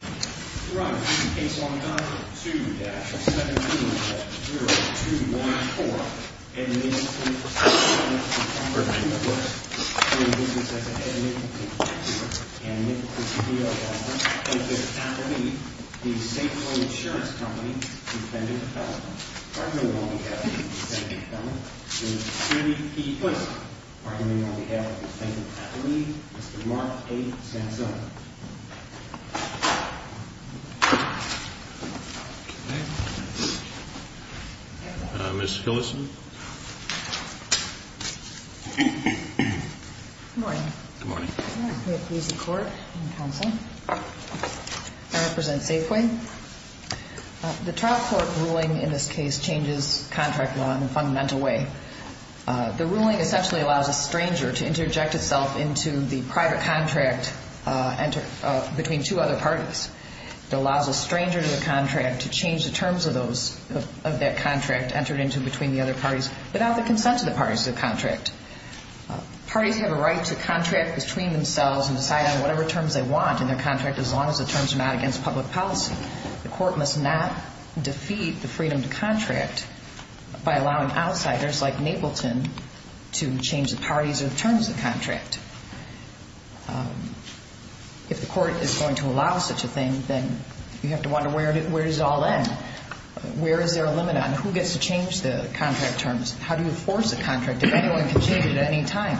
From Case Long Island, 2-17-0214, Edmund C. Elmhurst Imports, Inc. v. Safeway Insurance Company, Defendant Elmhurst, arguing on behalf of the defendant's family, Ms. Hillison. Good morning. Good morning. We have a court and counsel. I represent Safeway. The trial court ruling in this case changes contract law in a fundamental way. The ruling essentially allows a stranger to interject itself into the private contract between two other parties. It allows a stranger to the contract to change the terms of that contract entered into between the other parties without the consent of the parties to the contract. Parties have a right to contract between themselves and decide on whatever terms they want in their contract, as long as the terms are not against public policy. The court must not defeat the freedom to contract by allowing outsiders like Napleton to change the parties or the terms of the contract. If the court is going to allow such a thing, then you have to wonder where does it all end? Where is there a limit on who gets to change the contract terms? How do you force a contract if anyone can change it at any time?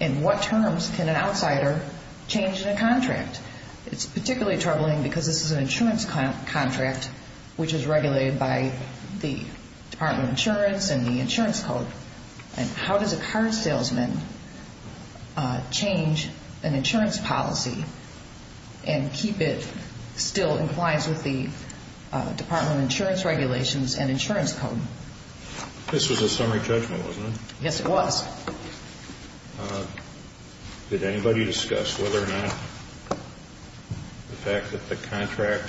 In what terms can an outsider change the contract? It's particularly troubling because this is an insurance contract which is regulated by the Department of Insurance and the insurance code. And how does a car salesman change an insurance policy and keep it still in compliance with the Department of Insurance regulations and insurance code? This was a summary judgment, wasn't it? Yes, it was. Did anybody discuss whether or not the fact that the contract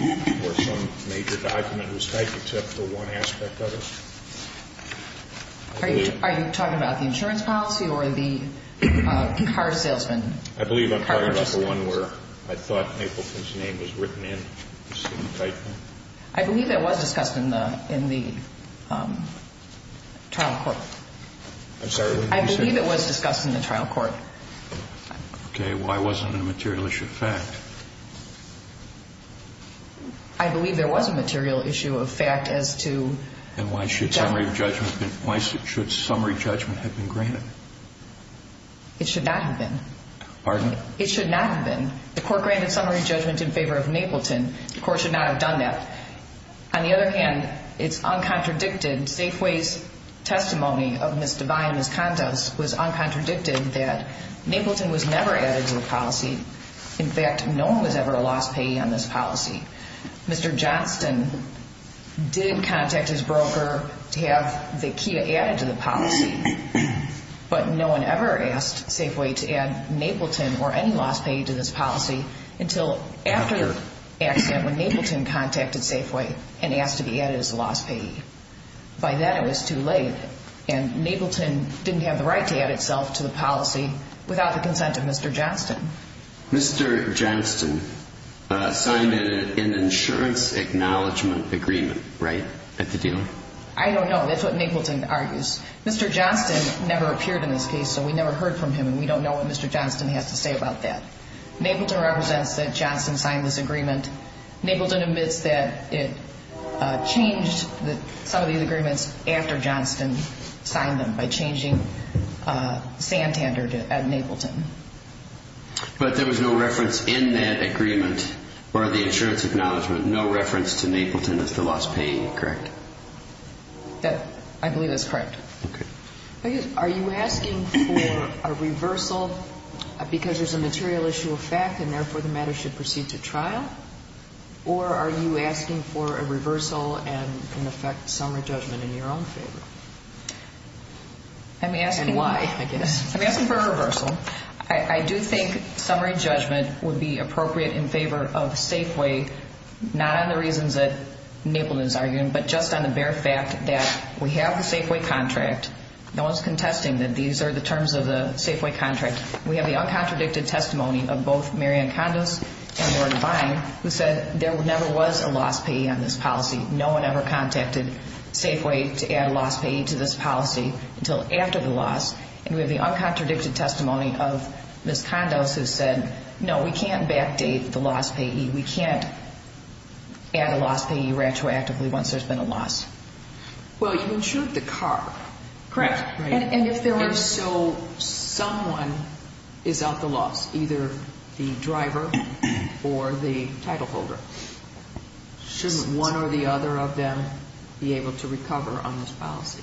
or some major document was typed except for one aspect of it? Are you talking about the insurance policy or the car salesman? I believe I'm talking about the one where I thought Napleton's name was written in. I believe that was discussed in the trial court. I believe it was discussed in the trial court. Okay, why wasn't it a material issue of fact? I believe there was a material issue of fact as to... And why should summary judgment have been granted? It should not have been. Pardon? It should not have been. The court granted summary judgment in favor of Napleton. The court should not have done that. On the other hand, it's uncontradicted. Safeway's testimony of Ms. Devine, Ms. Contos, was uncontradicted that Napleton was never added to the policy. In fact, no one was ever lost pay on this policy. Mr. Johnston did contact his broker to have the key added to the policy, but no one ever asked Safeway to add Napleton or any lost pay to this policy until after the accident when Napleton contacted Safeway and asked to be added as a lost payee. By then it was too late, and Napleton didn't have the right to add itself to the policy without the consent of Mr. Johnston. Mr. Johnston signed an insurance acknowledgment agreement, right, at the deal? I don't know. That's what Napleton argues. Mr. Johnston never appeared in this case, so we never heard from him, and we don't know what Mr. Johnston has to say about that. Napleton represents that Johnston signed this agreement. Napleton admits that it changed some of these agreements after Johnston signed them by changing Santander at Napleton. But there was no reference in that agreement or the insurance acknowledgment, no reference to Napleton as the lost payee, correct? I believe that's correct. Are you asking for a reversal because there's a material issue of fact and therefore the matter should proceed to trial, or are you asking for a reversal and can affect summary judgment in your own favor? And why, I guess. I'm asking for a reversal. I do think summary judgment would be appropriate in favor of Safeway, not on the reasons that Napleton is arguing, but just on the bare fact that we have the Safeway contract. No one's contesting that these are the terms of the Safeway contract. We have the uncontradicted testimony of both Mary Ann Kondos and Lord Vine who said there never was a lost payee on this policy. No one ever contacted Safeway to add a lost payee to this policy until after the loss. And we have the uncontradicted testimony of Ms. Kondos who said, no, we can't backdate the lost payee. We can't add a lost payee retroactively once there's been a loss. Well, you insured the car. Correct. And if there was so someone is at the loss, either the driver or the title holder, shouldn't one or the other of them be able to recover on this policy?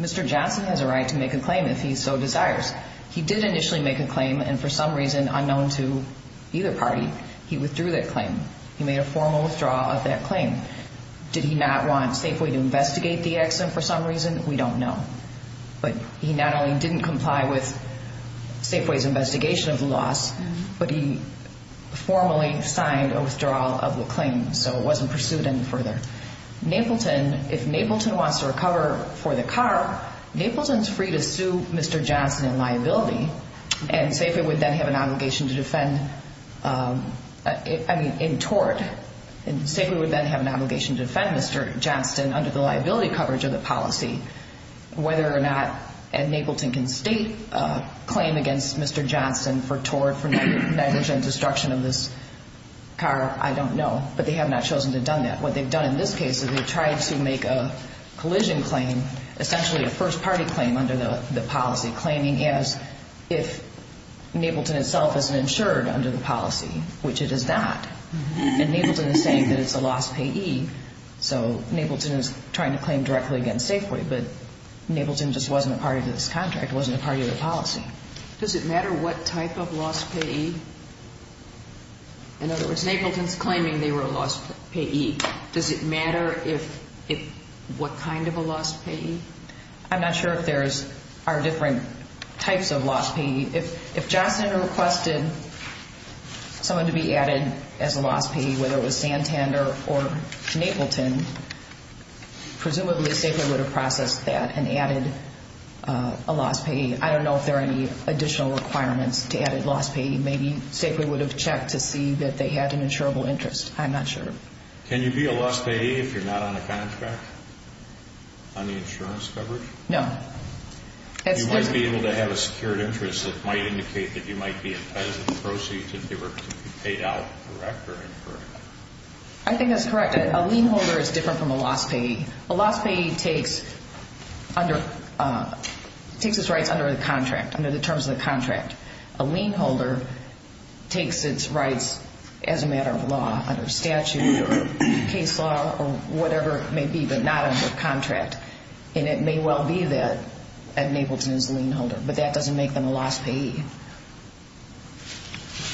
Mr. Johnson has a right to make a claim if he so desires. He did initially make a claim, and for some reason, unknown to either party, he withdrew that claim. He made a formal withdrawal of that claim. Did he not want Safeway to investigate the accident for some reason? We don't know. But he not only didn't comply with Safeway's investigation of the loss, but he formally signed a withdrawal of the claim, so it wasn't pursued any further. If Napleton wants to recover for the car, Napleton's free to sue Mr. Johnson in liability, and Safeway would then have an obligation to defend, I mean, in tort. And Safeway would then have an obligation to defend Mr. Johnson under the liability coverage of the policy. Whether or not Napleton can state a claim against Mr. Johnson for tort, for negligent destruction of this car, I don't know. But they have not chosen to have done that. What they've done in this case is they've tried to make a collision claim, essentially a first-party claim under the policy, claiming as if Napleton itself isn't insured under the policy, which it is not. And Napleton is saying that it's a lost payee, so Napleton is trying to claim directly against Safeway, but Napleton just wasn't a party to this contract, wasn't a party to the policy. Does it matter what type of lost payee? In other words, Napleton's claiming they were a lost payee. Does it matter what kind of a lost payee? I'm not sure if there are different types of lost payee. If Johnson requested someone to be added as a lost payee, whether it was Santander or Napleton, presumably Safeway would have processed that and added a lost payee. I don't know if there are any additional requirements to add a lost payee. Maybe Safeway would have checked to see that they had an insurable interest. I'm not sure. Can you be a lost payee if you're not on a contract on the insurance coverage? No. You wouldn't be able to have a secured interest that might indicate that you might be in pension proceeds if they were paid out correct or incorrect? I think that's correct. A lien holder is different from a lost payee. A lost payee takes its rights under the contract, under the terms of the contract. A lien holder takes its rights as a matter of law, under statute or case law or whatever it may be, but not under contract. And it may well be that a Napleton is a lien holder, but that doesn't make them a lost payee.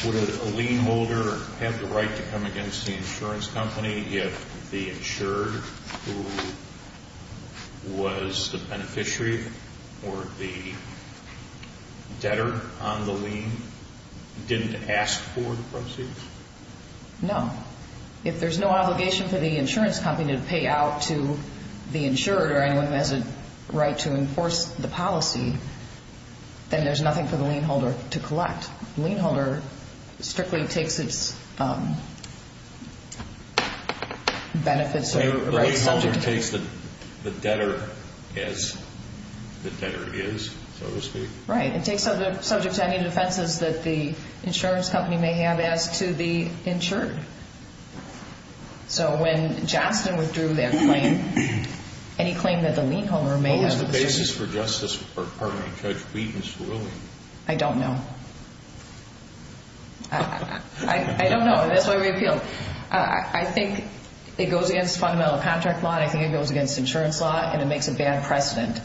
Would a lien holder have the right to come against the insurance company if the insured who was the beneficiary or the debtor on the lien didn't ask for the proceeds? No. If there's no obligation for the insurance company to pay out to the insured or anyone who has a right to enforce the policy, then there's nothing for the lien holder to collect. A lien holder strictly takes its benefits or rights subject to... A lien holder takes the debtor as the debtor is, so to speak. Right. It takes subject to any defenses that the insurance company may have as to the insured. So when Johnston withdrew that claim, any claim that the lien holder may have... What was the basis for Judge Wheaton's ruling? I don't know. I don't know, and that's why we appealed. I think it goes against fundamental contract law, I think it goes against insurance law, and it makes a bad precedent.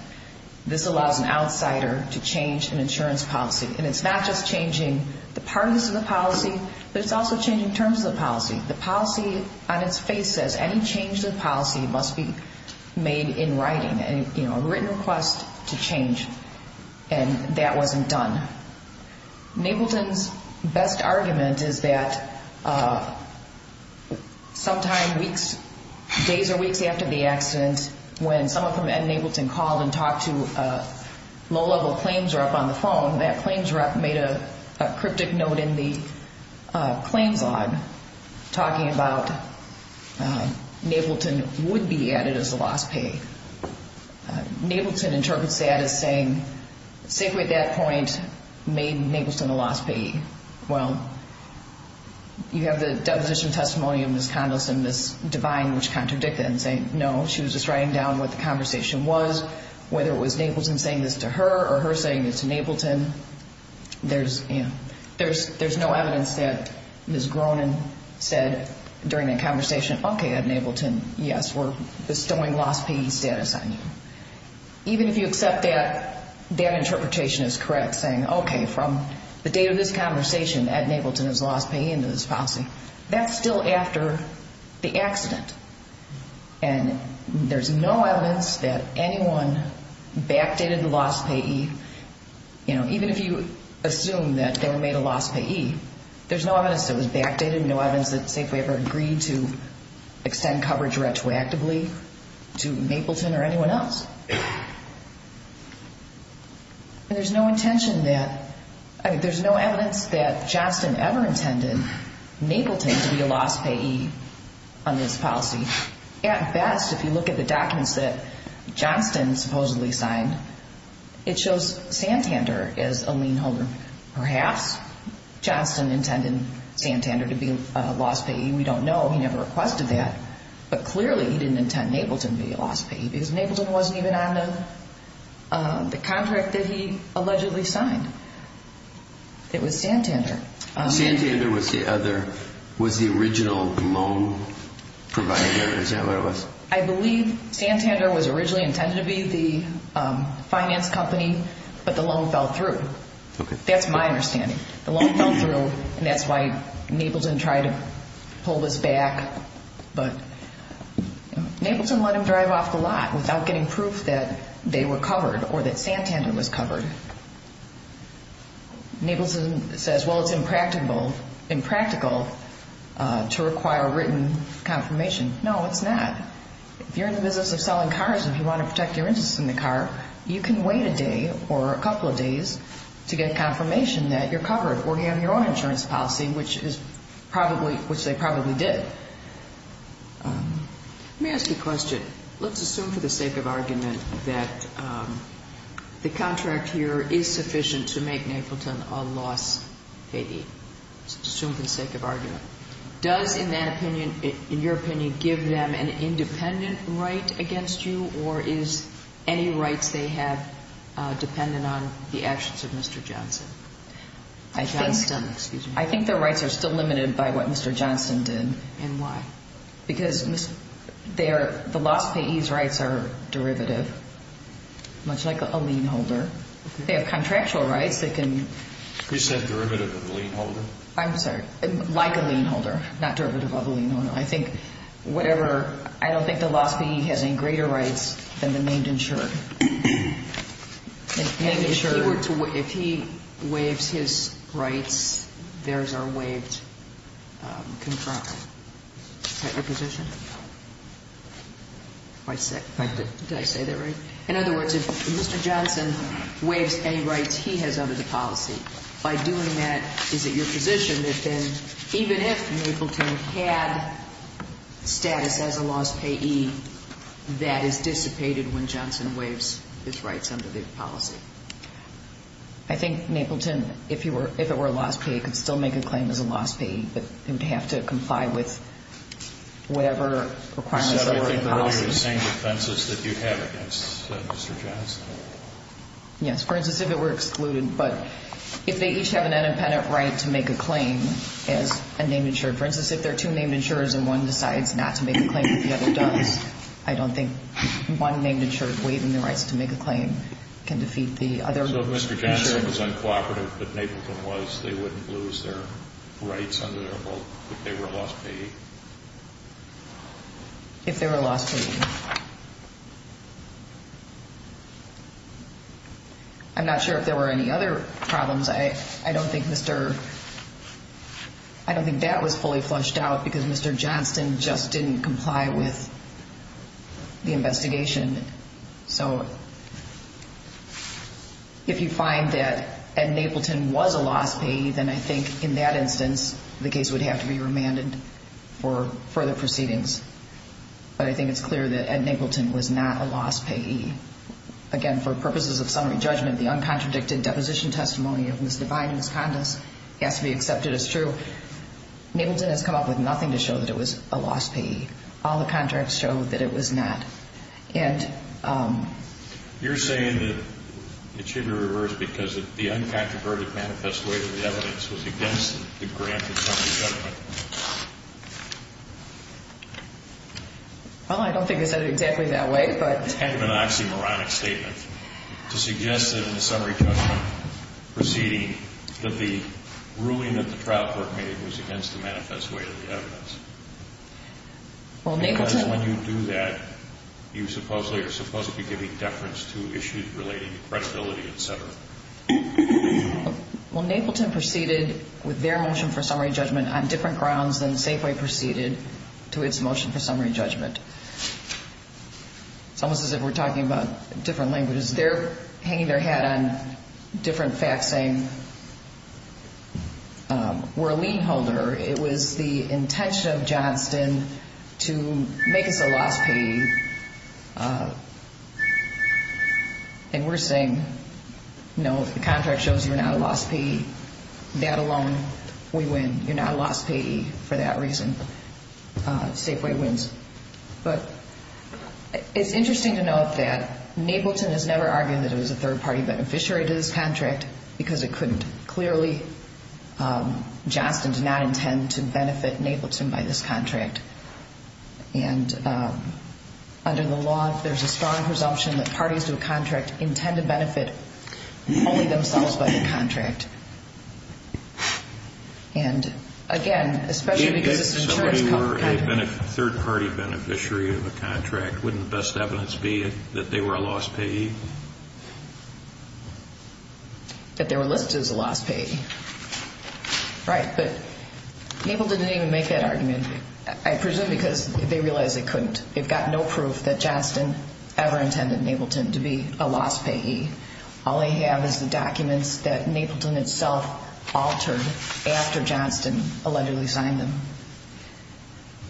This allows an outsider to change an insurance policy. And it's not just changing the parties of the policy, but it's also changing terms of the policy. The policy on its face says any change to the policy must be made in writing, a written request to change, and that wasn't done. Nableton's best argument is that sometime weeks, days or weeks after the accident, when someone from Ed and Nableton called and talked to low-level claims or up on the phone, that claims rep made a cryptic note in the claims log talking about Nableton would be added as a lost payee. Nableton interprets that as saying SACWI at that point made Nableton a lost payee. Well, you have the deposition testimony of Ms. Condos and Ms. Devine, which contradict that and say, no, she was just writing down what the conversation was, but whether it was Nableton saying this to her or her saying this to Nableton, there's no evidence that Ms. Gronin said during that conversation, okay, Ed and Nableton, yes, we're bestowing lost payee status on you. Even if you accept that, that interpretation is correct, saying, okay, from the date of this conversation, Ed and Nableton is a lost payee under this policy. That's still after the accident. And there's no evidence that anyone backdated the lost payee. You know, even if you assume that they were made a lost payee, there's no evidence that it was backdated, no evidence that SACWI ever agreed to extend coverage retroactively to Napleton or anyone else. And there's no intention that, I mean, there's no evidence that Johnston ever intended Napleton to be a lost payee on this policy. At best, if you look at the documents that Johnston supposedly signed, it shows Santander as a lien holder. Perhaps Johnston intended Santander to be a lost payee. We don't know. He never requested that. But clearly he didn't intend Napleton to be a lost payee, because Napleton wasn't even on the contract that he allegedly signed. It was Santander. Santander was the other – was the original loan provider? Is that what it was? I believe Santander was originally intended to be the finance company, but the loan fell through. Okay. That's my understanding. The loan fell through, and that's why Napleton tried to pull this back. But Napleton let him drive off the lot without getting proof that they were covered or that Santander was covered. Napleton says, well, it's impractical to require written confirmation. No, it's not. If you're in the business of selling cars and you want to protect your interests in the car, you can wait a day or a couple of days to get confirmation that you're covered or you have your own insurance policy, which they probably did. Let me ask you a question. Let's assume for the sake of argument that the contract here is sufficient to make Napleton a lost payee. Let's assume for the sake of argument. Does, in your opinion, give them an independent right against you, or is any rights they have dependent on the actions of Mr. Johnson? I think their rights are still limited by what Mr. Johnson did. And why? Because the lost payee's rights are derivative, much like a lien holder. They have contractual rights. Who said derivative of a lien holder? I'm sorry. Like a lien holder, not derivative of a lien holder. I don't think the lost payee has any greater rights than the named insurer. If he waives his rights, theirs are waived contractually. Is that your position? Quite sick. Thank you. Did I say that right? In other words, if Mr. Johnson waives any rights he has under the policy, by doing that, is it your position that then even if Napleton had status as a lost payee, that is dissipated when Johnson waives his rights under the policy? I think Napleton, if it were a lost payee, could still make a claim as a lost payee, but they would have to comply with whatever requirements that were in the policy. You said earlier the same defenses that you have against Mr. Johnson. Yes. For instance, if it were excluded. But if they each have an independent right to make a claim as a named insurer, for instance, if there are two named insurers and one decides not to make a claim but the other does, I don't think one named insurer waiving the rights to make a claim can defeat the other. So if Mr. Johnson was uncooperative, but Napleton was, they wouldn't lose their rights under their vote if they were a lost payee? If they were a lost payee. I'm not sure if there were any other problems. I don't think that was fully flushed out because Mr. Johnson just didn't comply with the investigation. So if you find that Ed Napleton was a lost payee, then I think in that instance the case would have to be remanded for further proceedings. But I think it's clear that Ed Napleton was not a lost payee. Again, for purposes of summary judgment, the uncontradicted deposition testimony of Mr. Biden's condos has to be accepted as true. Napleton has come up with nothing to show that it was a lost payee. All the contracts show that it was not. You're saying that it should be reversed because the uncontroverted manifesto evidence was against the grant of summary judgment. Well, I don't think they said it exactly that way. It's kind of an oxymoronic statement to suggest that in the summary judgment proceeding, that the ruling that the trial court made was against the manifest way of the evidence. Because when you do that, you supposedly are supposed to be giving deference to issues relating to credibility, et cetera. Well, Napleton proceeded with their motion for summary judgment on different grounds than Safeway proceeded to its motion for summary judgment. It's almost as if we're talking about different languages. They're hanging their hat on different facts, saying we're a lien holder. It was the intention of Johnston to make us a lost payee. And we're saying, no, the contract shows you're not a lost payee. That alone, we win. You're not a lost payee for that reason. Safeway wins. But it's interesting to note that Napleton has never argued that it was a third-party beneficiary to this contract because it couldn't. Clearly, Johnston did not intend to benefit Napleton by this contract. And under the law, there's a strong presumption that parties to a contract intend to benefit only themselves by the contract. And, again, especially because this insurance company — If somebody were a third-party beneficiary of a contract, wouldn't the best evidence be that they were a lost payee? That they were listed as a lost payee. Right. But Napleton didn't even make that argument. I presume because they realized they couldn't. They've got no proof that Johnston ever intended Napleton to be a lost payee. All they have is the documents that Napleton itself altered after Johnston allegedly signed them.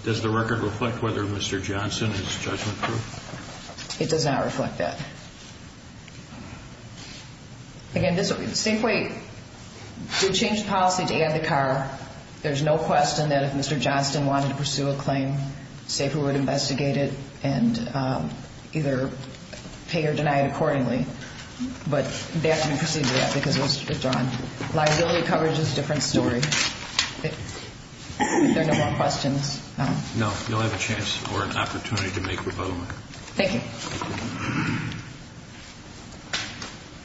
Does the record reflect whether Mr. Johnston is judgment-proof? It does not reflect that. Again, this is a safe way to change the policy to add the car. There's no question that if Mr. Johnston wanted to pursue a claim, SAFER would investigate it and either pay or deny it accordingly. But that didn't proceed to that because it was withdrawn. Liability coverage is a different story. If there are no more questions. No, you'll have a chance or an opportunity to make a rebuttal. Thank you.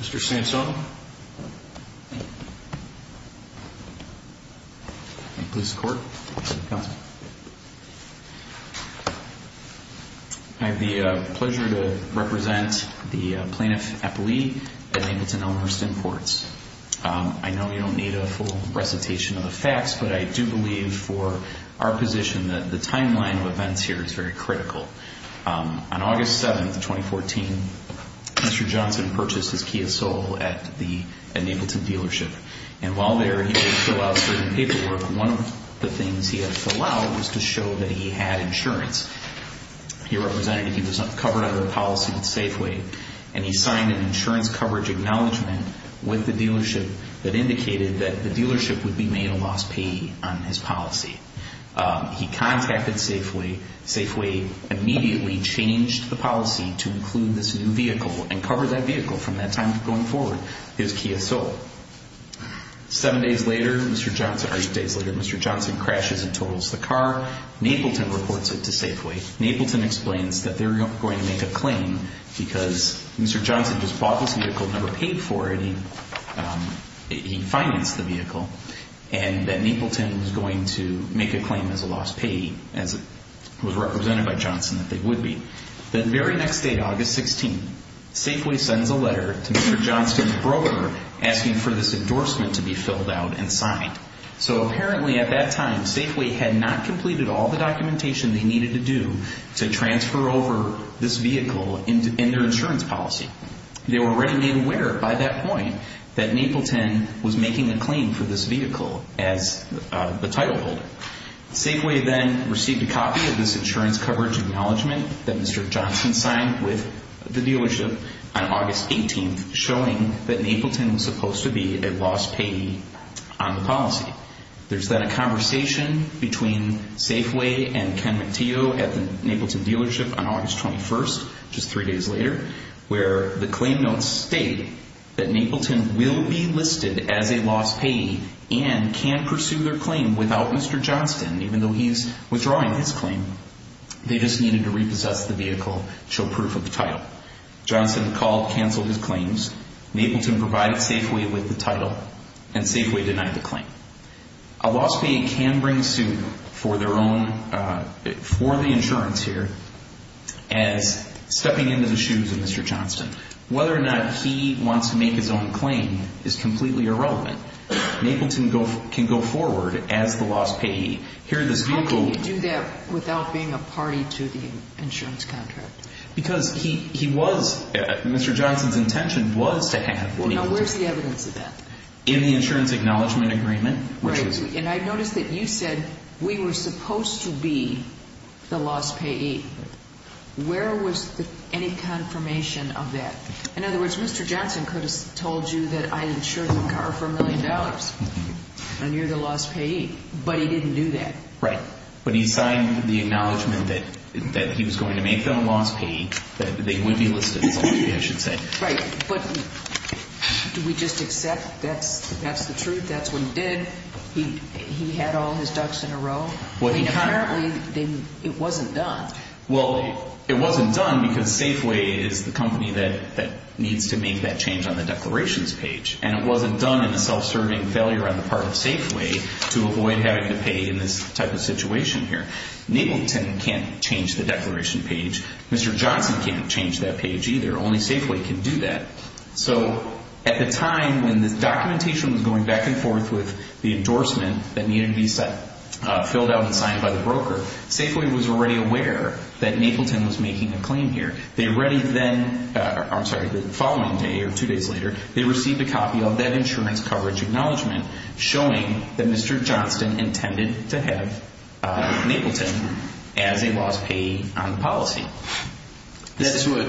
Mr. Sansone. Police Court. I have the pleasure to represent the plaintiff, Eppley, at Napleton Elmhurst Imports. I know you don't need a full recitation of the facts, but I do believe for our position that the timeline of events here is very critical. On August 7th, 2014, Mr. Johnston purchased his Kia Soul at the Napleton dealership. And while there, he had to fill out certain paperwork. One of the things he had to fill out was to show that he had insurance. He represented that he was not covered under the policy with Safeway. And he signed an insurance coverage acknowledgement with the dealership that indicated that the dealership would be made a lost payee on his policy. He contacted Safeway. Safeway immediately changed the policy to include this new vehicle and cover that vehicle from that time going forward, his Kia Soul. Seven days later, Mr. Johnston crashes and totals the car. Napleton reports it to Safeway. Napleton explains that they're going to make a claim because Mr. Johnston just bought this vehicle, never paid for it. He financed the vehicle. And that Napleton was going to make a claim as a lost payee, as it was represented by Johnston that they would be. The very next day, August 16th, Safeway sends a letter to Mr. Johnston's broker asking for this endorsement to be filled out and signed. So apparently at that time, Safeway had not completed all the documentation they needed to do to transfer over this vehicle in their insurance policy. They were already made aware by that point that Napleton was making a claim for this vehicle as the title holder. Safeway then received a copy of this insurance coverage acknowledgement that Mr. Johnston signed with the dealership on August 18th, showing that Napleton was supposed to be a lost payee on the policy. There's then a conversation between Safeway and Ken McTeo at the Napleton dealership on August 21st, just three days later, where the claim notes state that Napleton will be listed as a lost payee and can pursue their claim without Mr. Johnston, even though he's withdrawing his claim. They just needed to repossess the vehicle to show proof of the title. Johnston called, canceled his claims. Napleton provided Safeway with the title and Safeway denied the claim. A lost payee can bring suit for their own, for the insurance here, as stepping into the shoes of Mr. Johnston. Whether or not he wants to make his own claim is completely irrelevant. Napleton can go forward as the lost payee. How can you do that without being a party to the insurance contract? Because he was, Mr. Johnston's intention was to have. Now, where's the evidence of that? In the insurance acknowledgement agreement. And I noticed that you said we were supposed to be the lost payee. Where was any confirmation of that? In other words, Mr. Johnston could have told you that I insured the car for $1 million, and you're the lost payee, but he didn't do that. Right, but he signed the acknowledgement that he was going to make them a lost payee, that they would be listed as a lost payee, I should say. Right, but do we just accept that's the truth, that's what he did, he had all his ducks in a row? Apparently, it wasn't done. Well, it wasn't done because Safeway is the company that needs to make that change on the declarations page. And it wasn't done in the self-serving failure on the part of Safeway to avoid having to pay in this type of situation here. Napleton can't change the declaration page. Mr. Johnston can't change that page either. Only Safeway can do that. So at the time when this documentation was going back and forth with the endorsement that needed to be filled out and signed by the broker, Safeway was already aware that Napleton was making a claim here. They already then, I'm sorry, the following day or two days later, they received a copy of that insurance coverage acknowledgement showing that Mr. Johnston intended to have Napleton as a lost payee on the policy. That's what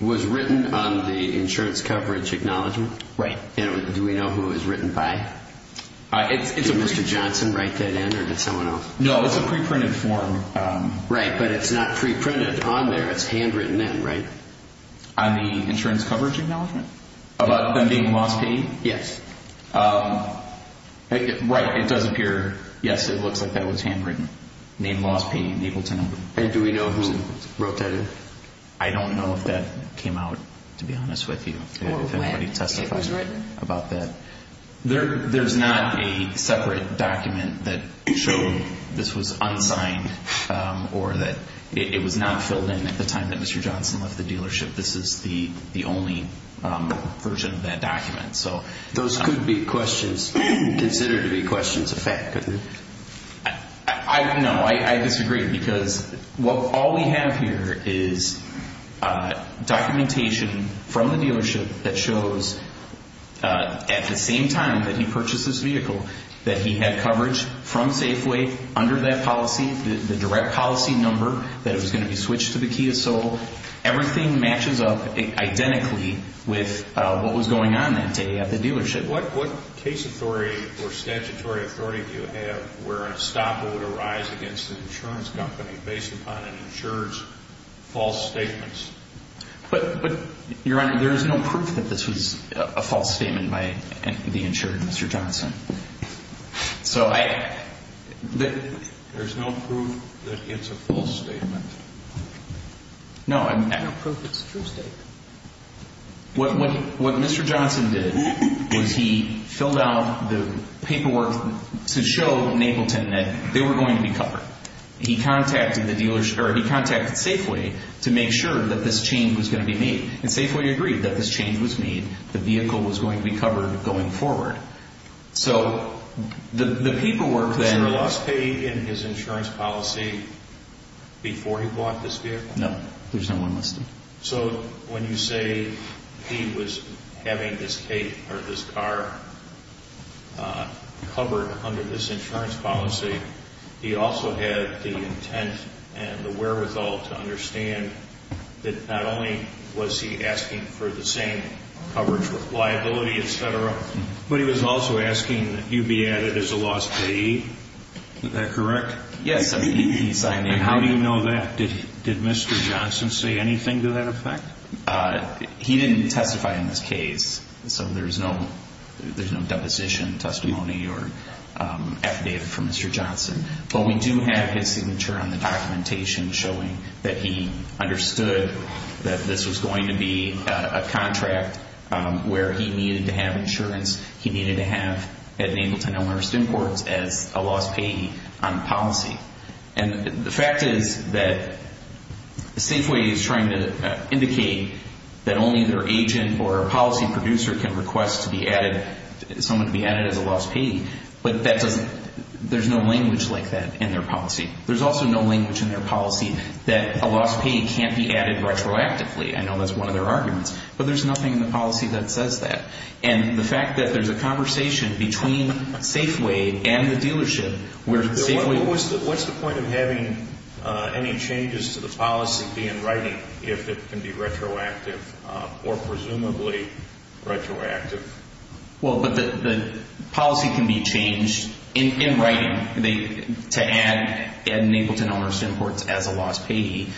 was written on the insurance coverage acknowledgement? Right. Do we know who it was written by? Did Mr. Johnston write that in or did someone else? No, it's a pre-printed form. Right, but it's not pre-printed on there, it's handwritten in, right? On the insurance coverage acknowledgement? About them being lost payee? Yes. Right, it does appear, yes, it looks like that was handwritten, named lost payee Napleton. And do we know who wrote that in? I don't know if that came out, to be honest with you, if anybody testified about that. There's not a separate document that showed this was unsigned or that it was not filled in at the time that Mr. Johnston left the dealership. This is the only version of that document. Those could be considered to be questions of fact, couldn't they? No, I disagree because all we have here is documentation from the dealership that shows at the same time that he purchased this vehicle that he had coverage from Safeway under that policy, the direct policy number that it was going to be switched to the Kia Soul. Everything matches up identically with what was going on that day at the dealership. What case authority or statutory authority do you have where a stop would arise against an insurance company based upon an insurer's false statements? Your Honor, there is no proof that this was a false statement by the insurer, Mr. Johnston. There's no proof that it's a false statement? No. There's no proof it's a true statement. What Mr. Johnston did was he filled out the paperwork to show Napleton that they were going to be covered. He contacted Safeway to make sure that this change was going to be made, and Safeway agreed that this change was made, the vehicle was going to be covered going forward. So the paperwork then... Was your loss paid in his insurance policy before he bought this vehicle? No, there's no one listed. So when you say he was having this car covered under this insurance policy, he also had the intent and the wherewithal to understand that not only was he asking for the same coverage with liability, etc., but he was also asking that you be added as a loss payee. Is that correct? Yes. And how do you know that? Did Mr. Johnston say anything to that effect? He didn't testify in this case, so there's no deposition, testimony, or affidavit from Mr. Johnston. But we do have his signature on the documentation showing that he understood that this was going to be a contract where he needed to have insurance, he needed to have at Napleton Elmhurst Imports as a loss payee on the policy. And the fact is that Safeway is trying to indicate that only their agent or policy producer can request someone to be added as a loss payee, but there's no language like that in their policy. There's also no language in their policy that a loss payee can't be added retroactively. I know that's one of their arguments, but there's nothing in the policy that says that. And the fact that there's a conversation between Safeway and the dealership where Safeway... What's the point of having any changes to the policy be in writing if it can be retroactive or presumably retroactive? Well, the policy can be changed in writing to add at Napleton Elmhurst Imports as a loss payee,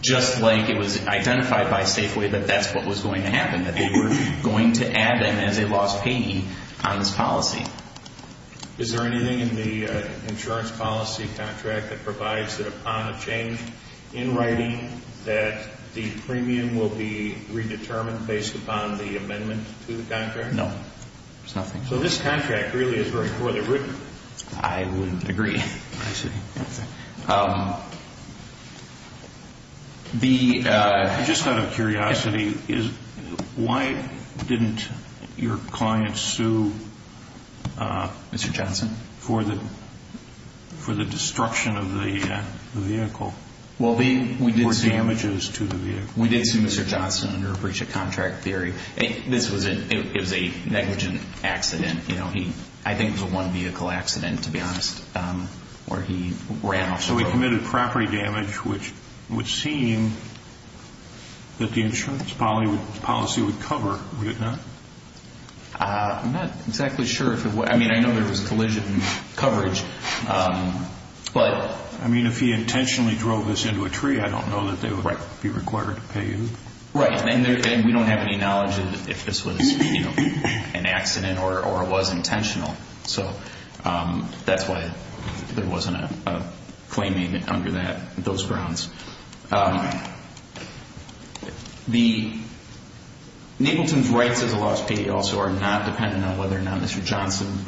just like it was identified by Safeway that that's what was going to happen, that they were going to add them as a loss payee on this policy. Is there anything in the insurance policy contract that provides that upon a change in writing that the premium will be redetermined based upon the amendment to the contract? No, there's nothing. So this contract really is very poorly written. I wouldn't agree. I see. I just had a curiosity. Why didn't your client sue... Mr. Johnson? For the destruction of the vehicle or damages to the vehicle? We did sue Mr. Johnson under a breach of contract theory. It was a negligent accident. I think it was a one-vehicle accident, to be honest, where he ran off the road. So he committed property damage, which would seem that the insurance policy would cover, would it not? I'm not exactly sure. I mean, I know there was collision coverage, but... I mean, if he intentionally drove this into a tree, I don't know that they would be required to pay him. Right. And we don't have any knowledge if this was an accident or was intentional. So that's why there wasn't a claim made under those grounds. Nagleton's rights as a lost payee also are not dependent on whether or not Mr. Johnson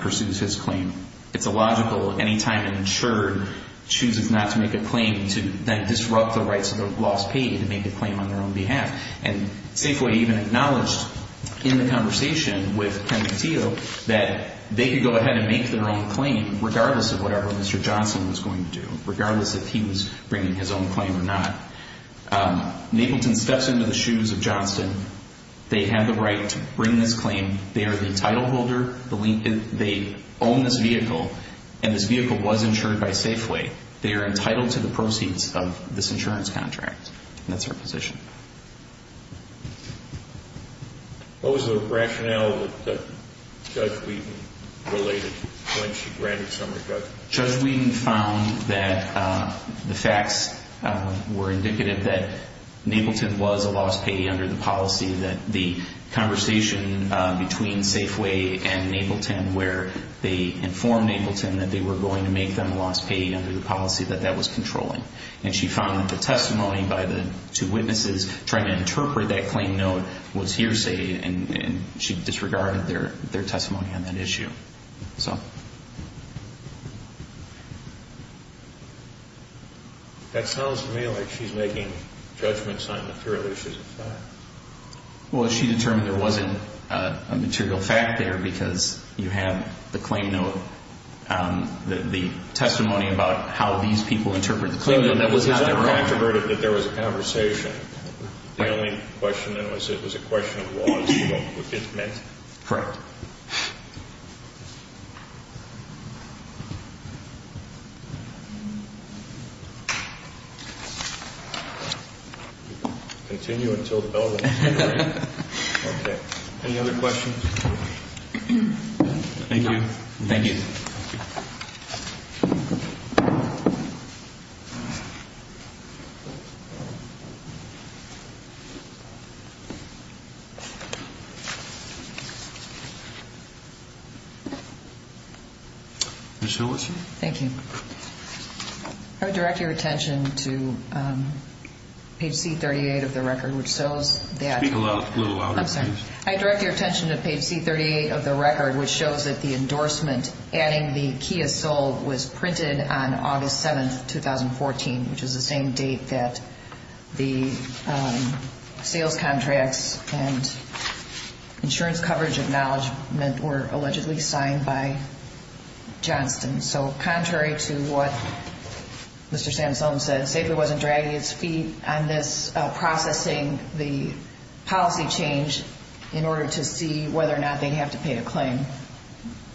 pursues his claim. It's illogical any time an insurer chooses not to make a claim to then disrupt the rights of the lost payee to make a claim on their own behalf. And Safeway even acknowledged in the conversation with Ken Mateo that they could go ahead and make their own claim regardless of whatever Mr. Johnson was going to do, regardless if he was bringing his own claim or not. Nagleton steps into the shoes of Johnson. They have the right to bring this claim. They are the title holder. They own this vehicle, and this vehicle was insured by Safeway. They are entitled to the proceeds of this insurance contract, and that's our position. What was the rationale that Judge Wheaton related when she granted some of the judgment? Judge Wheaton found that the facts were indicative that Nagleton was a lost payee under the policy, that the conversation between Safeway and Nagleton where they informed Nagleton that they were going to make them a lost payee under the policy, that that was controlling. And she found that the testimony by the two witnesses trying to interpret that claim note was hearsay, and she disregarded their testimony on that issue. That sounds to me like she's making judgments on material issues of fact. Well, she determined there wasn't a material fact there because you have the claim note, the testimony about how these people interpret the claim note. That was not a fact. It was not a fact that there was a conversation. The only question then was it was a question of what it meant. Correct. Continue until the bell rings. Okay. Any other questions? Thank you. Thank you. Ms. Hillerson. Thank you. I would direct your attention to page C38 of the record, which shows that. Speak a little louder, please. I'm sorry. I direct your attention to page C38 of the record, which shows that the endorsement adding the Kia Soul was printed on August 7th, 2014, which is the same date that the sales contracts and insurance coverage acknowledgement were allegedly signed by Johnston. So contrary to what Mr. Sansone said, Safeway wasn't dragging its feet on this processing the policy change in order to see whether or not they'd have to pay a claim.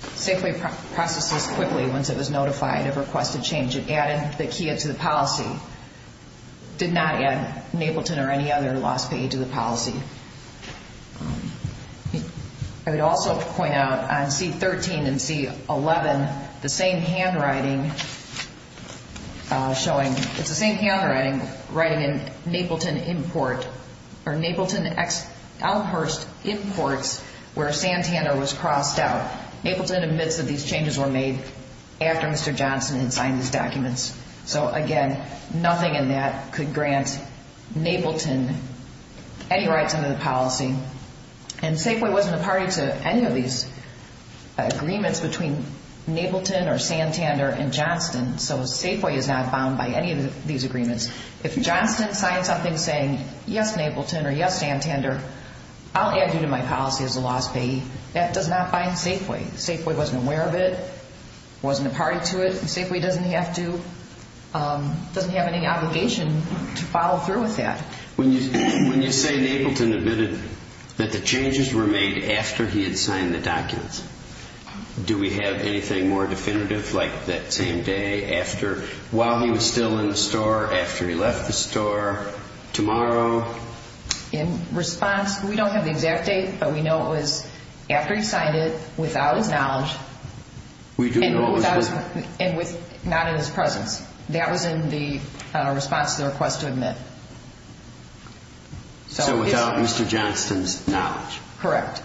Safeway processed this quickly once it was notified of requested change. It added the Kia to the policy. It did not add Napleton or any other loss paid to the policy. I would also point out on C13 and C11, the same handwriting showing. It's the same handwriting writing in Napleton import or Napleton Elmhurst imports where Santander was crossed out. Napleton admits that these changes were made after Mr. Johnston had signed these documents. So again, nothing in that could grant Napleton any rights under the policy. And Safeway wasn't a party to any of these agreements between Napleton or Santander and Johnston. So Safeway is not bound by any of these agreements. If Johnston signed something saying, yes, Napleton or yes, Santander, I'll add you to my policy as a loss payee. That does not bind Safeway. Safeway wasn't aware of it, wasn't a party to it. Safeway doesn't have to, doesn't have any obligation to follow through with that. When you say Napleton admitted that the changes were made after he had signed the documents, do we have anything more definitive like that same day after, while he was still in the store, after he left the store, tomorrow? In response, we don't have the exact date, but we know it was after he signed it, without his knowledge. And not in his presence. That was in the response to the request to admit. So without Mr. Johnston's knowledge. Correct.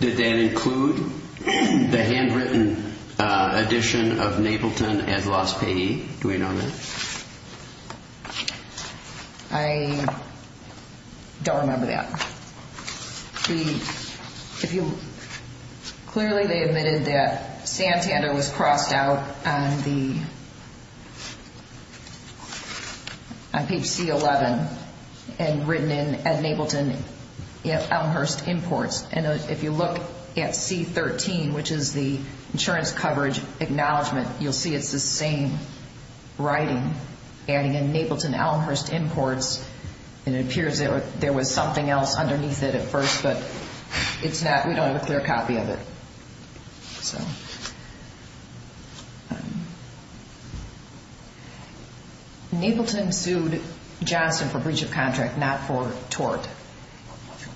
Did that include the handwritten edition of Napleton as loss payee? Do we know that? I don't remember that. If you, clearly they admitted that Santander was crossed out on the, on page C11 and written in at Napleton Elmhurst Imports. And if you look at C13, which is the insurance coverage acknowledgement, you'll see it's the same writing, adding in Napleton Elmhurst Imports. And it appears there was something else underneath it at first, but it's not, we don't have a clear copy of it. So. Napleton sued Johnston for breach of contract, not for tort.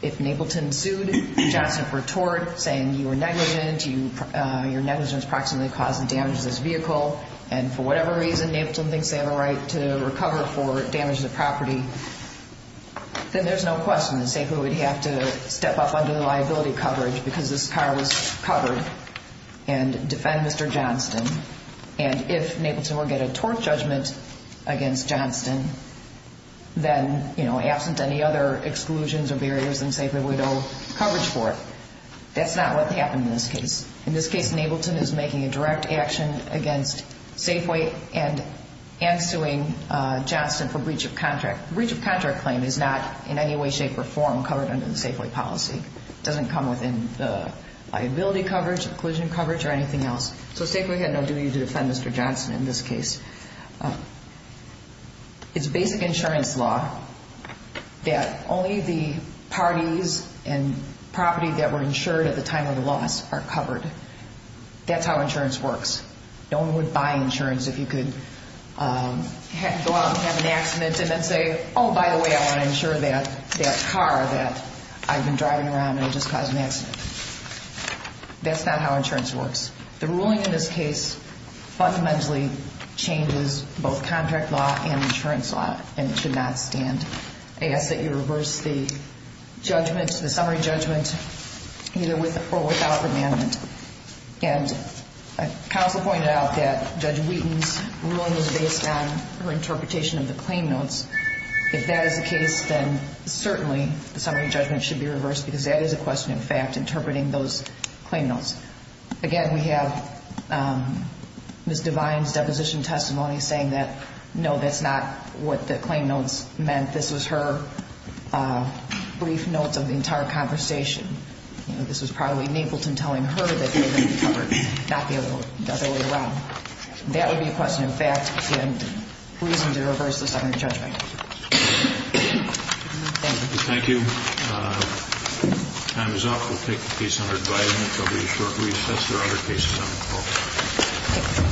If Napleton sued Johnston for tort, saying you were negligent, your negligence approximately caused the damage to this vehicle, and for whatever reason, Napleton thinks they have a right to recover for damage to the property, then there's no question that Safeway would have to step up under the liability coverage because this car was covered and defend Mr. Johnston. And if Napleton were to get a tort judgment against Johnston, then, you know, absent any other exclusions or barriers, then Safeway would owe coverage for it. That's not what happened in this case. In this case, Napleton is making a direct action against Safeway and suing Johnston for breach of contract. Breach of contract claim is not in any way, shape, or form covered under the Safeway policy. It doesn't come within the liability coverage, inclusion coverage, or anything else. So Safeway had no duty to defend Mr. Johnston in this case. It's basic insurance law that only the parties and property that were insured at the time of the loss are covered. That's how insurance works. No one would buy insurance if you could go out and have an accident and then say, oh, by the way, I want to insure that car that I've been driving around and it just caused an accident. That's not how insurance works. The ruling in this case fundamentally changes both contract law and insurance law, and it should not stand. I ask that you reverse the judgment, the summary judgment, either with or without the amendment. And counsel pointed out that Judge Wheaton's ruling was based on her interpretation of the claim notes. If that is the case, then certainly the summary judgment should be reversed because that is a question of fact, interpreting those claim notes. Again, we have Ms. Devine's deposition testimony saying that, no, that's not what the claim notes meant. This was her brief notes of the entire conversation. This was probably Napleton telling her that they were going to be covered, not the other way around. That would be a question of fact and reason to reverse the summary judgment. Thank you. Thank you. Time is up. We'll take the case under advising until we shortly assess the other cases on the call.